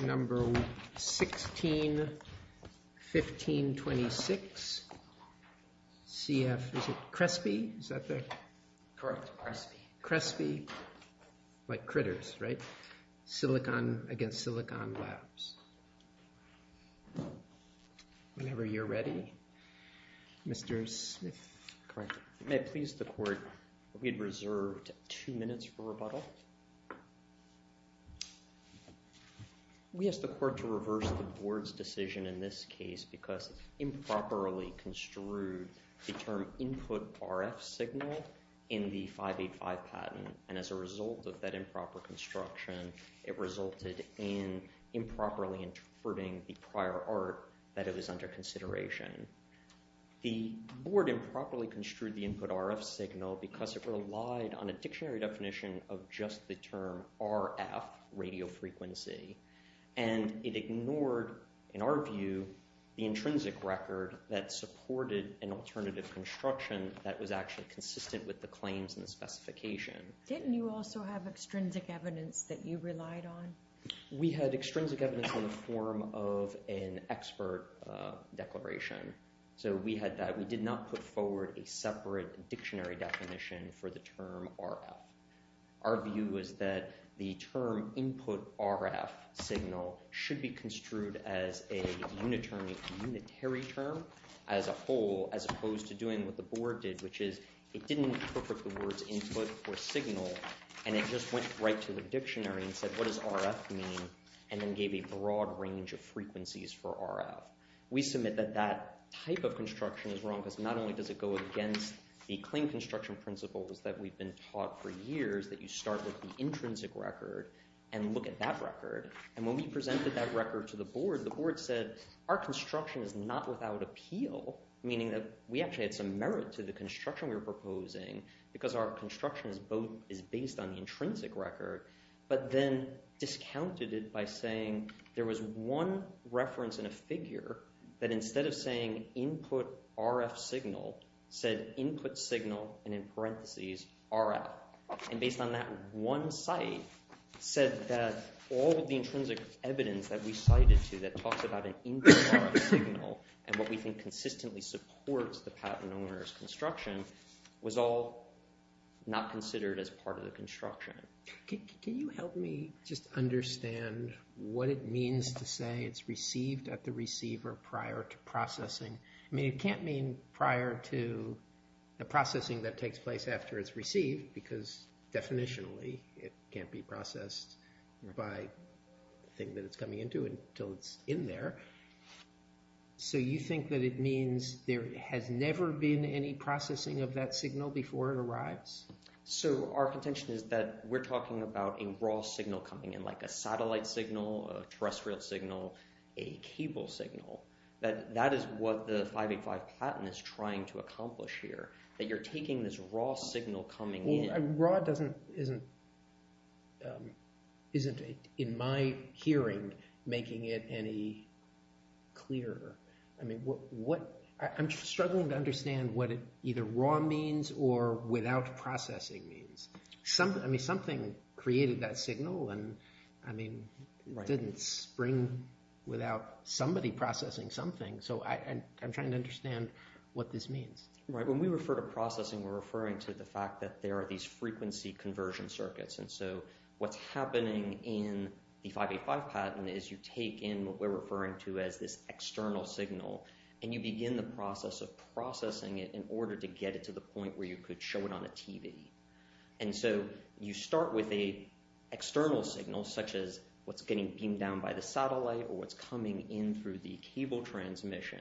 Number 16 1526 CF Crespe Crespe like critters right silicon against silicon labs whenever you're ready mr. Smith may please the court we'd reserved two we asked the court to reverse the board's decision in this case because improperly construed the term input RF signal in the 585 patent and as a result of that improper construction it resulted in improperly interpreting the prior art that it was under consideration the board improperly construed the input RF signal because it relied on a dictionary definition of just the term RF radiofrequency and it ignored in our view the intrinsic record that supported an alternative construction that was actually consistent with the claims in the specification didn't you also have extrinsic evidence that you relied on we had extrinsic evidence in the form of an expert declaration so we had that we did not put forward a separate dictionary definition for the term RF our view is that the term input RF signal should be construed as a unitary unitary term as a whole as opposed to doing what the board did which is it didn't put the words input or signal and it just went right to the dictionary and said what does RF mean and then gave a broad range of frequencies for RF we submit that that type of construction is wrong not only does it go against the claim construction principles that we've been taught for years that you start with the intrinsic record and look at that record and when we presented that record to the board the board said our construction is not without appeal meaning that we actually had some merit to the construction we were proposing because our construction is both is based on the intrinsic record but then discounted it by saying there was one reference in a RF signal said input signal and in parentheses RF and based on that one site said that all of the intrinsic evidence that we cited to that talks about an input RF signal and what we think consistently supports the patent owners construction was all not considered as part of the construction. Can you help me just understand what it means to say it's received at the receiver prior to the processing that takes place after it's received because definitionally it can't be processed by thing that it's coming into until it's in there so you think that it means there has never been any processing of that signal before it arrives? So our contention is that we're talking about a raw signal coming in like a satellite signal a terrestrial signal a cable signal that that is what the 585 patent is trying to accomplish here that you're taking this raw signal coming in. Raw doesn't isn't isn't it in my hearing making it any clearer I mean what what I'm struggling to understand what it either raw means or without processing means something I mean something created that signal and I mean didn't spring without somebody processing something so I'm trying to understand what this means. Right when we refer to processing we're referring to the fact that there are these frequency conversion circuits and so what's happening in the 585 patent is you take in what we're referring to as this external signal and you begin the process of processing it in order to get it to the point where you could show it on a TV and so you start with a external signal such as what's getting beamed down by the satellite or what's coming in through the cable transmission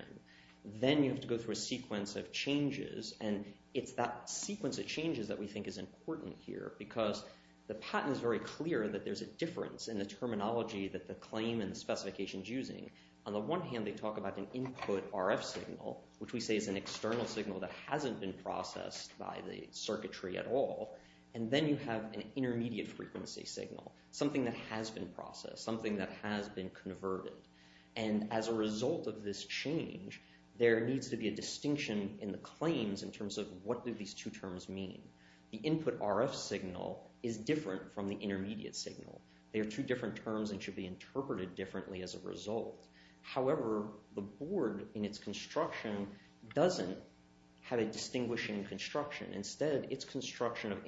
then you have to go through a sequence of changes and it's that sequence of changes that we think is important here because the patent is very clear that there's a difference in the terminology that the claim and specifications using on the one hand they talk about an input RF signal which we say is an external signal that hasn't been processed by the something that has been processed something that has been converted and as a result of this change there needs to be a distinction in the claims in terms of what do these two terms mean the input RF signal is different from the intermediate signal they are two different terms and should be interpreted differently as a result however the board in its construction doesn't have a distinguishing construction instead its construction of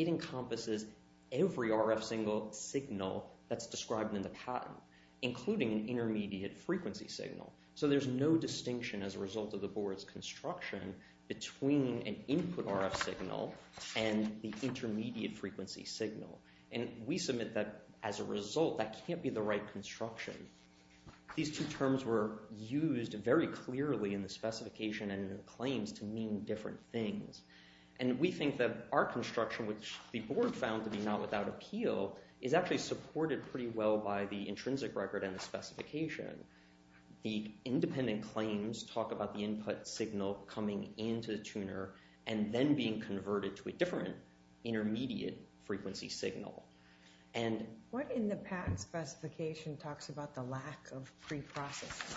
encompasses every RF single signal that's described in the patent including an intermediate frequency signal so there's no distinction as a result of the board's construction between an input RF signal and the intermediate frequency signal and we submit that as a result that can't be the right construction these two terms were used very clearly in the specification and claims to mean different things and we think that our construction which the board found to be not without appeal is actually supported pretty well by the intrinsic record and the specification the independent claims talk about the input signal coming into the tuner and then being converted to a different intermediate frequency signal and what in the patent specification talks about the lack of pre-process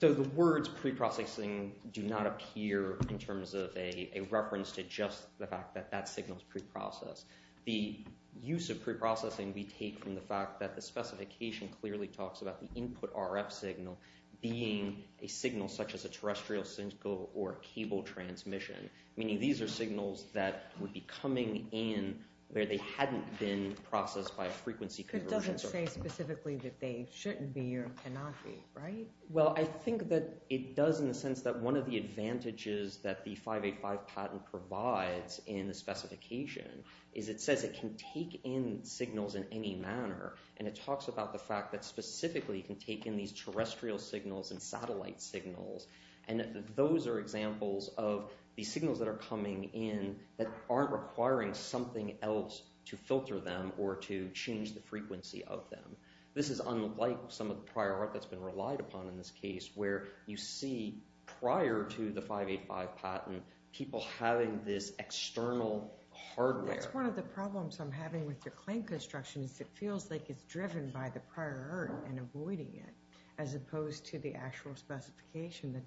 so the words pre-processing do not appear in terms of a reference to just the fact that that signals pre-process the use of pre-processing we take from the fact that the specification clearly talks about the input RF signal being a signal such as a terrestrial cynical or cable transmission meaning these are signals that would be coming in where they hadn't been processed by a frequency could say specifically that they shouldn't be or cannot be right well I think that it does in the sense that one of the advantages that the 585 patent provides in the specification is it says it can take in signals in any manner and it talks about the fact that specifically can take in these terrestrial signals and satellite signals and those are examples of these signals that are coming in that aren't requiring something else to filter them or to change the frequency of them this is unlike some of the prior art that's been relied upon in this case where you see prior to the 585 patent people having this external hardware that's one of the problems I'm having with your claim construction is it feels like it's driven by the prior and avoiding it as opposed to the actual specification that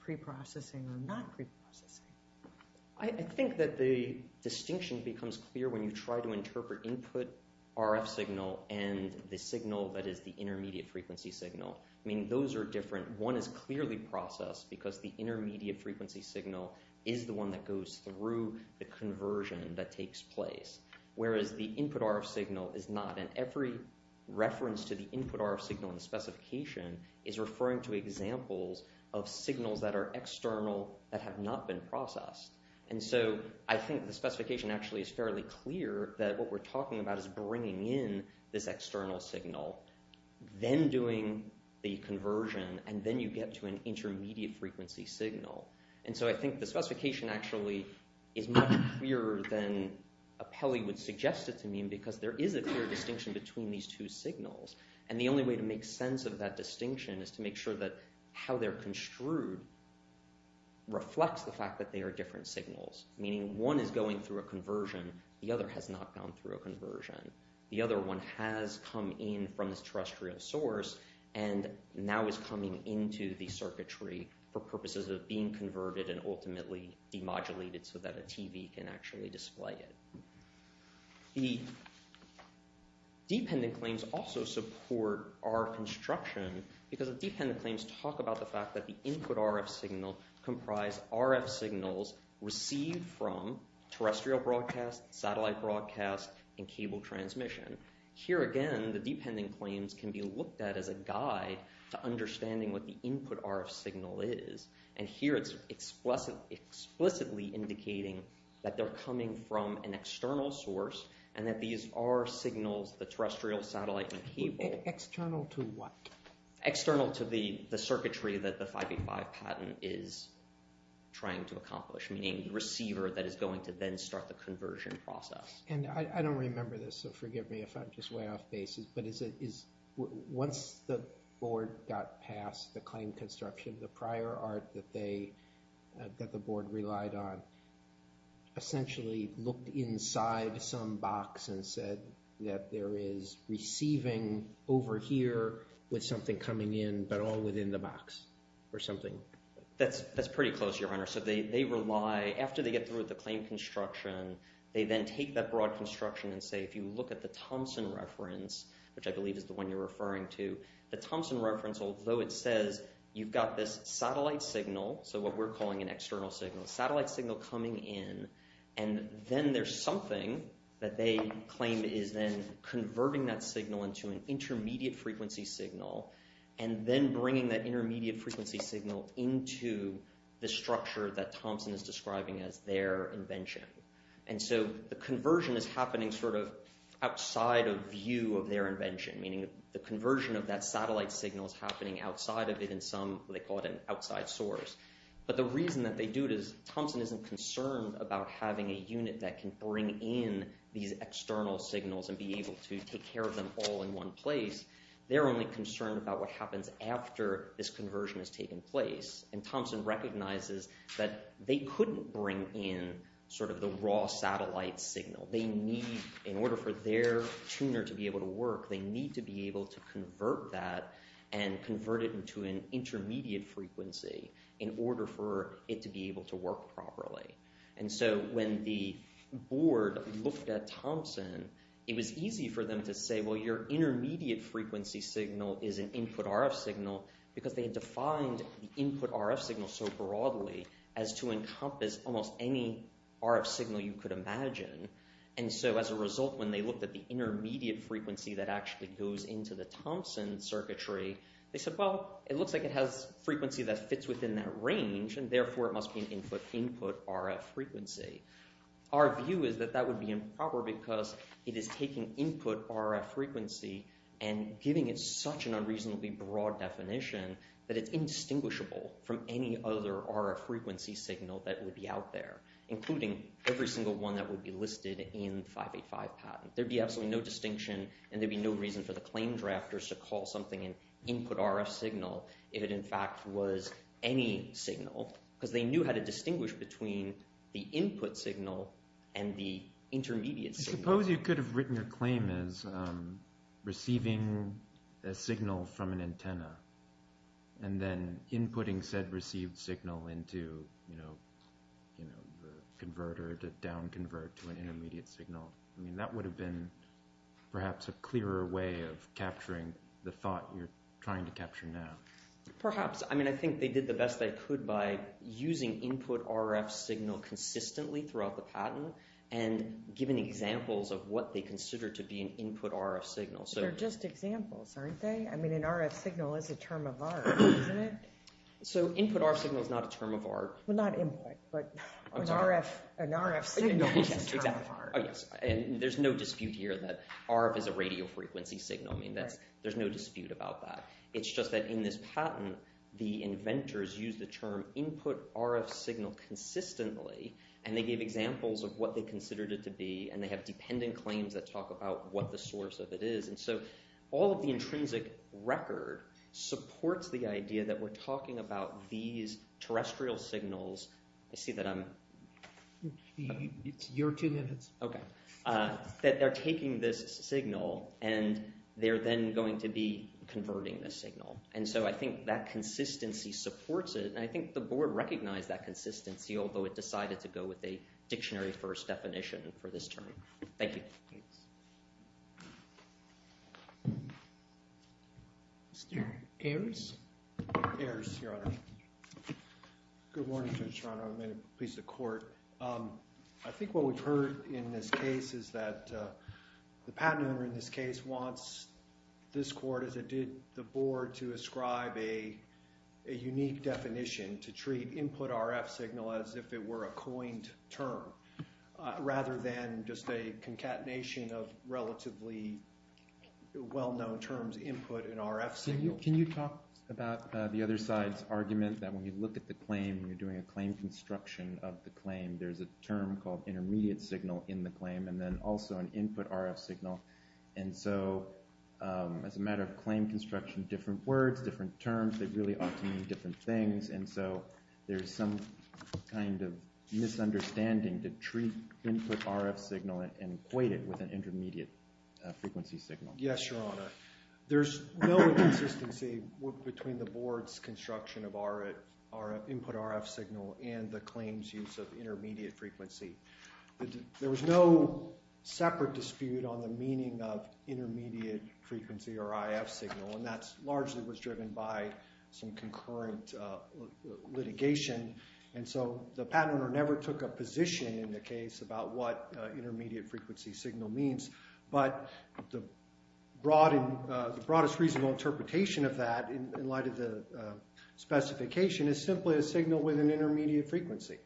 pre-processing or not I think that the distinction becomes clear when you try to interpret input RF signal and the signal that is the intermediate frequency signal I mean those are different one is clearly processed because the intermediate frequency signal is the one that goes through the conversion that takes place whereas the input RF signal is not and every reference to the input RF signal in the specification is referring to examples of signals that are external that have not been processed and so I think the specification actually is fairly clear that what we're talking about is bringing in this external signal then doing the conversion and then you get to an intermediate frequency signal and so I think the specification actually is much clearer than a Peli would suggest it to mean because there is a clear distinction between these two signals and the only way to make sense of that they're construed reflects the fact that they are different signals meaning one is going through a conversion the other has not gone through a conversion the other one has come in from this terrestrial source and now is coming into the circuitry for purposes of being converted and ultimately demodulated so that a TV can actually display it the dependent claims also support our instruction because the dependent claims talk about the fact that the input RF signal comprise RF signals received from terrestrial broadcast satellite broadcast and cable transmission here again the dependent claims can be looked at as a guide to understanding what the input RF signal is and here it's explicit explicitly indicating that they're coming from an external source and that these are signals the terrestrial satellite and external to what external to the the circuitry that the 585 patent is trying to accomplish meaning receiver that is going to then start the conversion process and I don't remember this so forgive me if I'm just way off basis but is it is once the board got past the claim construction the prior art that they that the board relied on essentially looked inside some box and that there is receiving over here with something coming in but all within the box or something that's that's pretty close your honor so they rely after they get through the claim construction they then take that broad construction and say if you look at the Thompson reference which I believe is the one you're referring to the Thompson reference although it says you've got this satellite signal so what we're calling an external signal satellite signal coming in and then there's something that they claim is then converting that signal into an intermediate frequency signal and then bringing that intermediate frequency signal into the structure that Thompson is describing as their invention and so the conversion is happening sort of outside of view of their invention meaning the conversion of that satellite signal is happening outside of it in some they call it an outside source but the reason that they do it is Thompson isn't concerned about having a unit that can bring in these external signals and be able to take care of them all in one place they're only concerned about what happens after this conversion has taken place and Thompson recognizes that they couldn't bring in sort of the raw satellite signal they need in order for their tuner to be able to work they need to be able to convert that and convert it into an intermediate frequency in order for it to be able to work properly and so when the board looked at Thompson it was easy for them to say well your intermediate frequency signal is an input RF signal because they had defined the input RF signal so broadly as to encompass almost any RF signal you could imagine and so as a result when they looked at the intermediate frequency that actually goes into the Thompson circuitry they said well it looks like it has frequency that fits within that range and therefore it must be an input RF frequency our view is that that would be improper because it is taking input RF frequency and giving it such an unreasonably broad definition that it's indistinguishable from any other RF frequency signal that would be out there including every single one that would be listed in 585 patent there'd be absolutely no distinction and there'd be no reason for the claim drafters to call something an input RF signal if it in fact was any signal because they knew how to distinguish between the input signal and the intermediate suppose you could have written your claim is receiving a signal from an antenna and then inputting said received signal into you know you know the converter to down convert to an intermediate signal I mean that would have been perhaps a clearer way of perhaps I mean I think they did the best they could by using input RF signal consistently throughout the patent and given examples of what they consider to be an input RF signal so they're just examples aren't they I mean an RF signal is a term of art so input our signal is not a term of art we're not in but RF and RF signals and there's no dispute here that RF is a radio frequency signal I mean that's there's no dispute about that it's just that in this patent the inventors use the term input RF signal consistently and they gave examples of what they considered it to be and they have dependent claims that talk about what the source of it is and so all of the intrinsic record supports the idea that we're talking about these terrestrial signals I see that I'm it's your two minutes okay that they're taking this signal and they're then going to be converting this signal and so I think that consistency supports it and I think the board recognized that consistency although it decided to go with a dictionary first definition for this term thank you I think what we've heard in this case is that the patent owner in this case wants this court as it did the board to ascribe a unique definition to treat input RF signal as if it were a coined term rather than just a concatenation of relatively well-known terms input and RF signal can you talk about the other side's argument that when you look at the claim you're doing a claim construction of the claim there's a term called intermediate signal in the claim and then also an input RF signal and so as a matter of claim construction different words different terms that really ought to mean different things and so there's some kind of misunderstanding to treat input RF signal and equate it with an intermediate frequency signal yes your honor there's no consistency between the board's construction of our our input RF signal and the claims use of intermediate frequency there was no separate dispute on the meaning of intermediate frequency or IF signal and that's largely was driven by some concurrent litigation and so the patent or never took a position in the case about what intermediate frequency signal means but the broad and the broadest reasonable interpretation of that in light of the specification is simply a signal with an intermediate frequency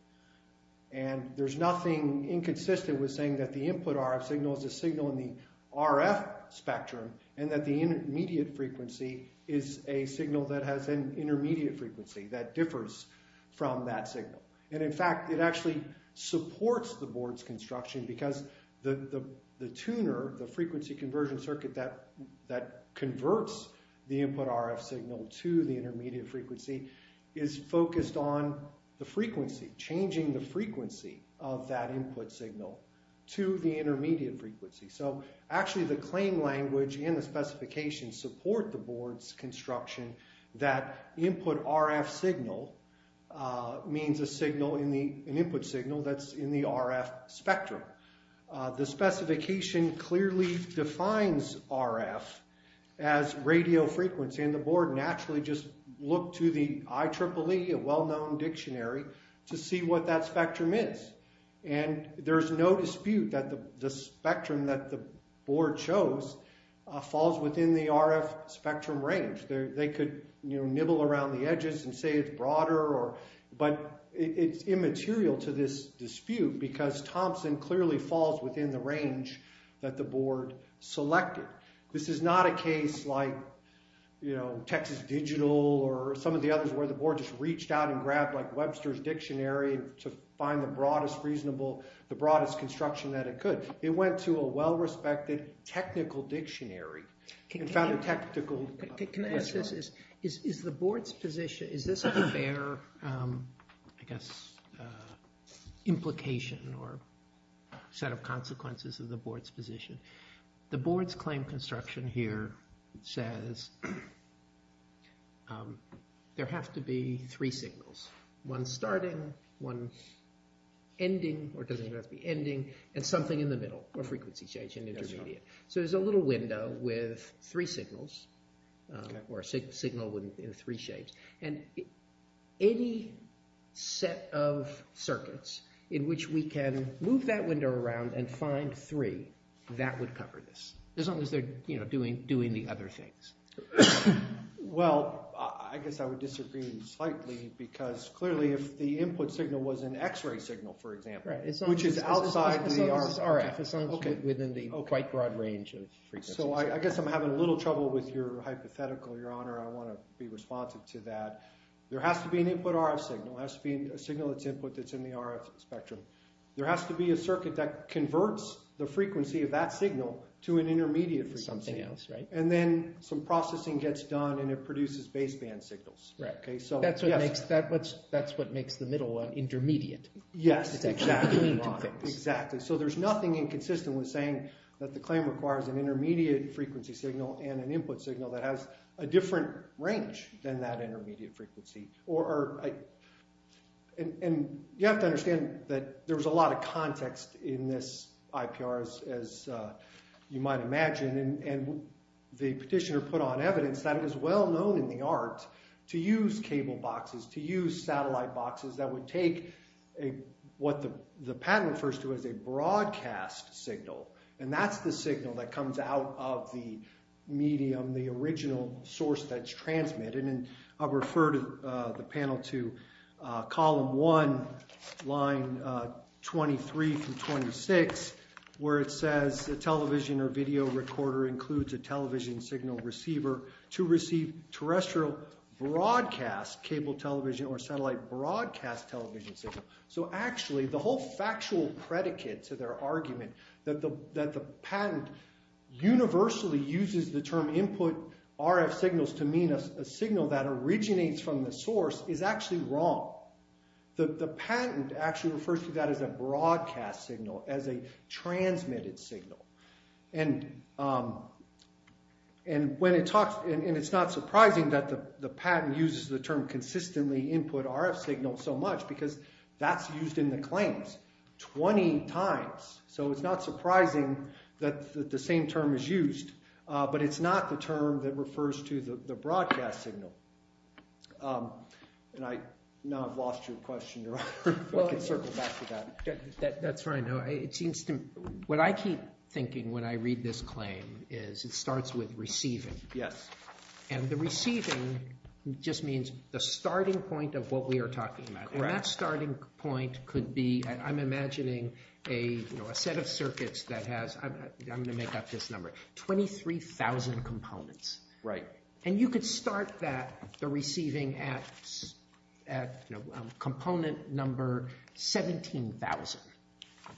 and there's nothing inconsistent with saying that the input RF signal is a signal in the RF spectrum and that the intermediate frequency is a signal that has an intermediate frequency that differs from that signal and in fact it actually supports the board's construction because the the tuner the frequency conversion circuit that that converts the input RF signal to the intermediate frequency is focused on the frequency changing the frequency of that input signal to the intermediate frequency so actually the claim language and the specifications support the RF signal means a signal in the input signal that's in the RF spectrum the specification clearly defines RF as radio frequency and the board naturally just look to the IEEE a well-known dictionary to see what that spectrum is and there's no dispute that the spectrum that the board chose falls within the edges and say it's broader or but it's immaterial to this dispute because Thompson clearly falls within the range that the board selected this is not a case like you know Texas Digital or some of the others where the board just reached out and grabbed like Webster's dictionary to find the broadest reasonable the broadest construction that it could it went to a well-respected technical dictionary can found a technical is the board's position is this a fair I guess implication or set of consequences of the board's position the board's claim construction here says there have to be three signals one starting one ending or doesn't have to be ending and something in the middle or so there's a little window with three signals or a signal wouldn't be in three shapes and any set of circuits in which we can move that window around and find three that would cover this as long as they're you know doing doing the other things well I guess I would disagree slightly because clearly if the input within the quite broad range so I guess I'm having a little trouble with your hypothetical your honor I want to be responsive to that there has to be an input RF signal has to be a signal it's input that's in the RF spectrum there has to be a circuit that converts the frequency of that signal to an intermediate for something else right and then some processing gets done and it produces baseband signals right okay so that's what makes that what's that's what makes the middle one intermediate yes exactly so there's nothing inconsistent with saying that the claim requires an intermediate frequency signal and an input signal that has a different range than that intermediate frequency or and you have to understand that there was a lot of context in this IPR as you might imagine and the petitioner put on evidence that it is well known in the art to use cable boxes to use satellite boxes that would take a what the the patent first was a broadcast signal and that's the signal that comes out of the medium the original source that's transmitted and I've referred the panel to column one line 23 from 26 where it says the television or video recorder includes a television signal receiver to receive terrestrial broadcast cable television or satellite broadcast television signal so actually the whole factual predicate to their argument that the that the patent universally uses the term input RF signals to mean a signal that originates from the source is actually wrong the patent actually refers to that as a broadcast signal as a transmitted signal and and when it talks and it's not surprising that the the patent uses the term consistently input RF signal so much because that's used in the claims 20 times so it's not surprising that the same term is used but it's not the term that refers to the broadcast signal and I know I've lost your question that's right no it seems to what I keep thinking when I read this claim is it starts with receiving yes and the starting point could be I'm imagining a set of circuits that has I'm gonna make up this number 23,000 components right and you could start that the receiving at at component number 17,000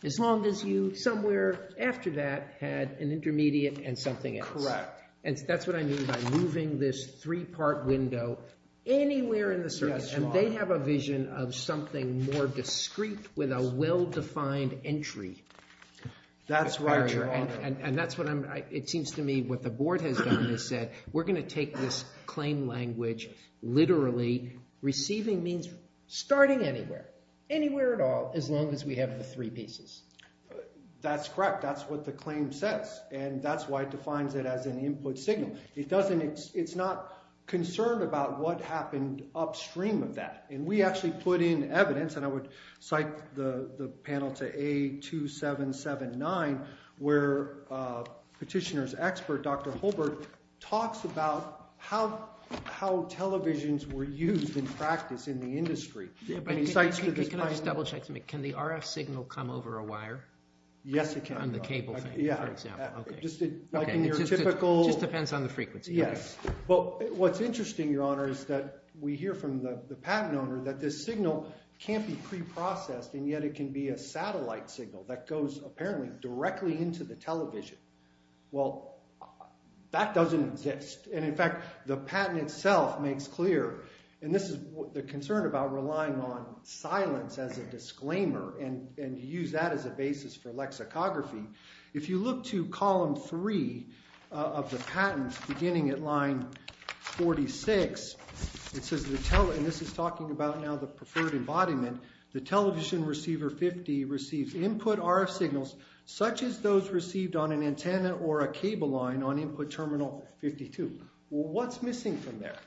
as long as you somewhere after that had an intermediate and something incorrect and that's what I mean by moving this three-part window anywhere in the circuit and they have a vision of something more discreet with a well-defined entry that's right and and that's what I'm it seems to me what the board has done is said we're gonna take this claim language literally receiving means starting anywhere anywhere at all as long as we have the three pieces that's correct that's what the claim says and that's why it defines it as an input signal it doesn't it's not concerned about what happened upstream of that and we actually put in evidence and I would cite the the panel to a 2779 where petitioners expert dr. Holbrook talks about how how televisions were used in practice in the industry can the RF come over a wire yes it can the cable yeah just depends on the frequency yes but what's interesting your honor is that we hear from the patent owner that this signal can't be pre-processed and yet it can be a satellite signal that goes apparently directly into the television well that doesn't exist and in fact the patent itself makes clear and this is the concern about relying on and use that as a basis for lexicography if you look to column 3 of the patents beginning at line 46 it says the tell and this is talking about now the preferred embodiment the television receiver 50 receives input RF signals such as those received on an antenna or a cable line on input terminal 52 what's missing from there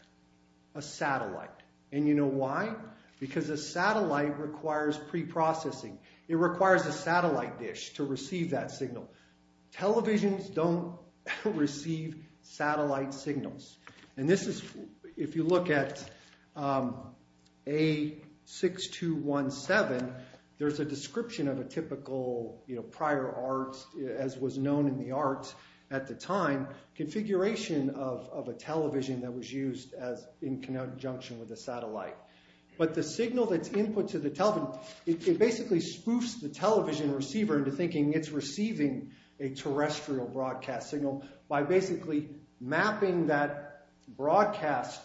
a satellite and you know why because a satellite requires pre-processing it requires a satellite dish to receive that signal televisions don't receive satellite signals and this is if you look at a six to one seven there's a description of a typical you know prior arts as was known in the art at the time configuration of a television that was used as in conjunction with a satellite but the signal that's input to the television it basically spoofs the television receiver into thinking it's receiving a terrestrial broadcast signal by basically mapping that broadcast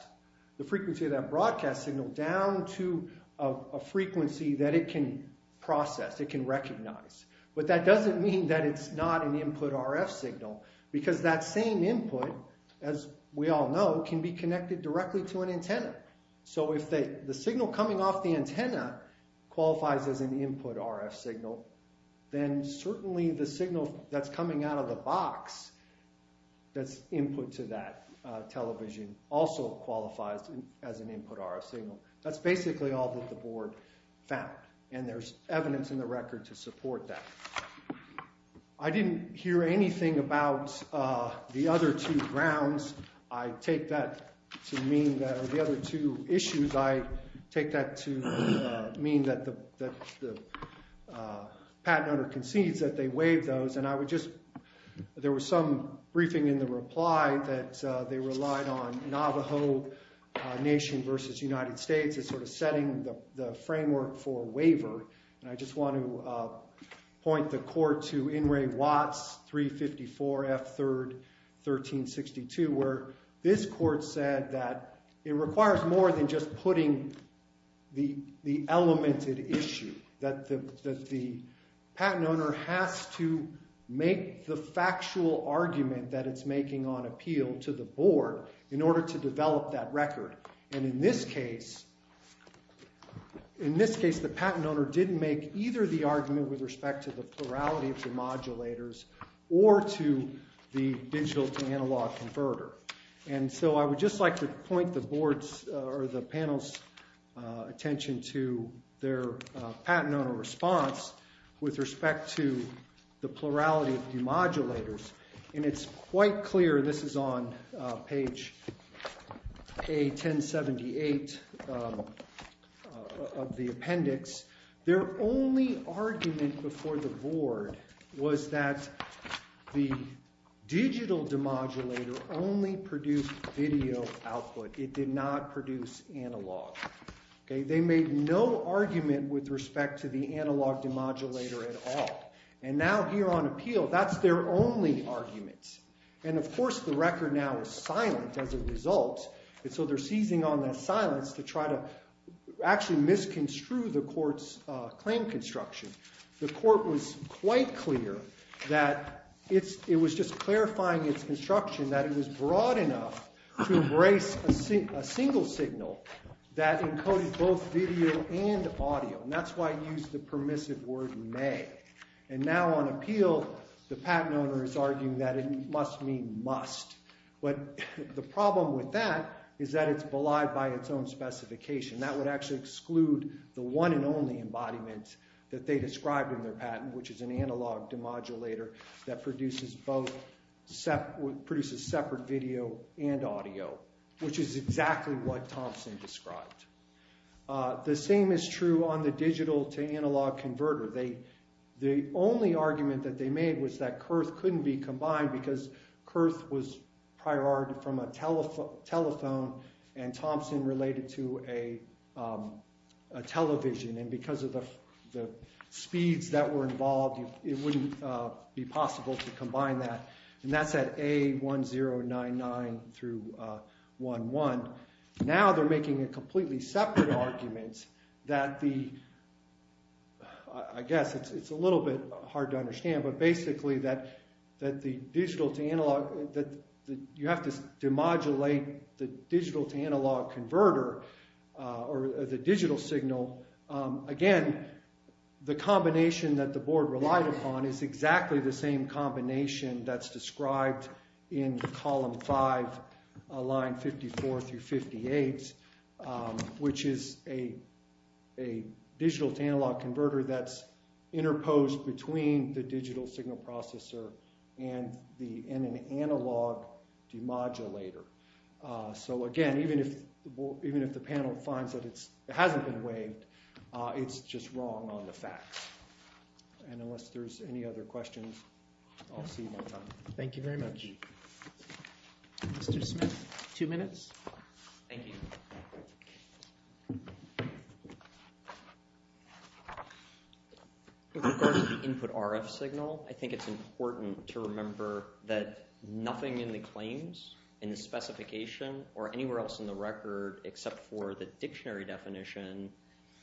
the frequency of that broadcast signal down to a frequency that it can process it can recognize but that doesn't mean that it's not an input RF signal because that same input as we all know can be connected directly to an antenna so if the signal coming off the antenna qualifies as an input RF signal then certainly the signal that's coming out of the box that's input to that television also qualifies as an input RF signal that's basically all that the board found and there's evidence in the record to support that I didn't hear anything about the other two grounds I take that to mean that the other two issues I take that to mean that the patent under concedes that they waive those and I would just there was some briefing in the reply that they relied on Navajo Nation versus United States is sort of setting the framework for waiver and I just want to point the court to in Ray Watts 354 F third 1362 where this more than just putting the the element at issue that the patent owner has to make the factual argument that it's making on appeal to the board in order to develop that record and in this case in this case the patent owner didn't make either the argument with respect to the plurality of the modulators or to the digital to analog converter and so I would just like to point the boards or the panels attention to their patent owner response with respect to the plurality of demodulators and it's quite clear this is on page a 1078 of the digital demodulator only produced video output it did not produce analog okay they made no argument with respect to the analog demodulator at all and now here on appeal that's their only arguments and of course the record now is silent as a result and so they're seizing on that silence to try to actually misconstrue the courts claim construction the court was quite clear that it was just clarifying its construction that it was broad enough to embrace a single signal that encoded both video and audio that's why I use the permissive word may and now on appeal the patent owner is arguing that it must mean must but the problem with that is that it's belied by its own specification that would actually exclude the one and only embodiment that they described in their patent which is an analog demodulator that produces both set with produces separate video and audio which is exactly what Thompson described the same is true on the digital to analog converter they the only argument that they made was that Kurth couldn't be combined because Kurth was prior art from a telephone telephone and Thompson related to a television and because of the speeds that were involved be possible to combine that and that's at a 1099 through one one now they're making a completely separate arguments that the I guess it's a little bit hard to understand but basically that that the digital to analog that you have to demodulate the digital to analog converter or the digital signal again the combination that the board relied upon is exactly the same combination that's described in column 5 line 54 through 58 which is a a digital to analog converter that's interposed between the digital signal processor and the in an analog demodulator so again even if even if the panel finds that it's it hasn't been waived it's just wrong on the facts and unless there's any other questions I'll see you thank you very much mr. Smith two minutes input RF signal I think it's important to remember that nothing in the claims in the specification or anywhere else in the record except for the dictionary definition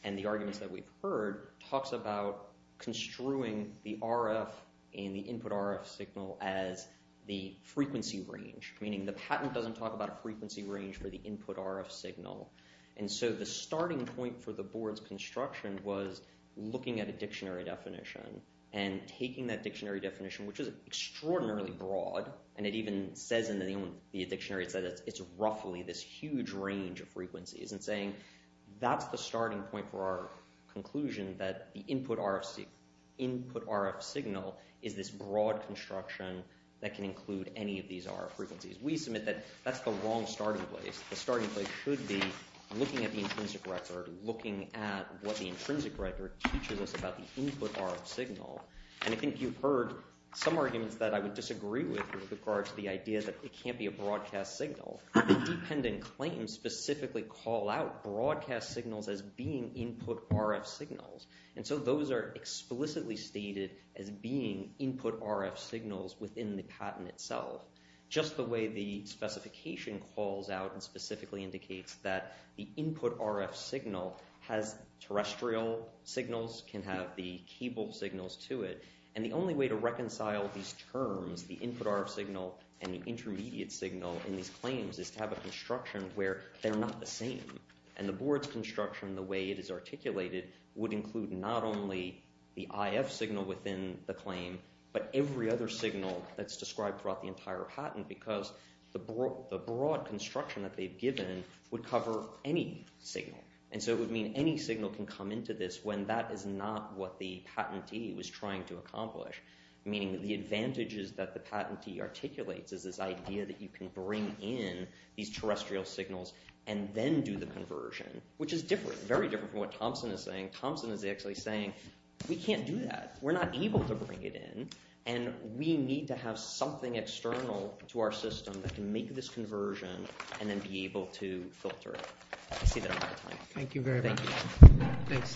and the arguments that we've heard talks about construing the RF in the input RF signal as the frequency range meaning the patent doesn't talk about a frequency range for the input RF signal and so the starting point for the board's construction was looking at a dictionary definition and taking that dictionary definition which is extraordinarily broad and it even says in the dictionary said it's roughly this huge range of frequencies and saying that's the starting point for our conclusion that the input RFC input RF signal is this broad construction that can include any of these are frequencies we submit that that's the wrong starting place the starting place should be looking at the intrinsic record looking at what the intrinsic record teaches us about the input RF signal and I think you've heard some arguments that I would disagree with with regards to the idea that it can't be a broadcast signal independent claims specifically call out broadcast signals as being input RF signals and so those are explicitly stated as being input RF signals within the patent itself just the way the specification calls out and specifically indicates that the input RF signal has terrestrial signals can have the cable signals to it and the only way to reconcile these terms the input RF signal and the intermediate signal in these claims is to have a construction where they're not the same and the board's construction the way it is articulated would include not only the IF signal within the claim but every other signal that's described throughout the entire patent because the broad construction that they've given would cover any signal and so it would mean any signal can come into this when that is not what the patentee was trying to articulate is this idea that you can bring in these terrestrial signals and then do the conversion which is different very different what Thompson is saying Thompson is actually saying we can't do that we're not able to bring it in and we need to have something external to our system that can make this conversion and then be able to filter thank you very much thanks both you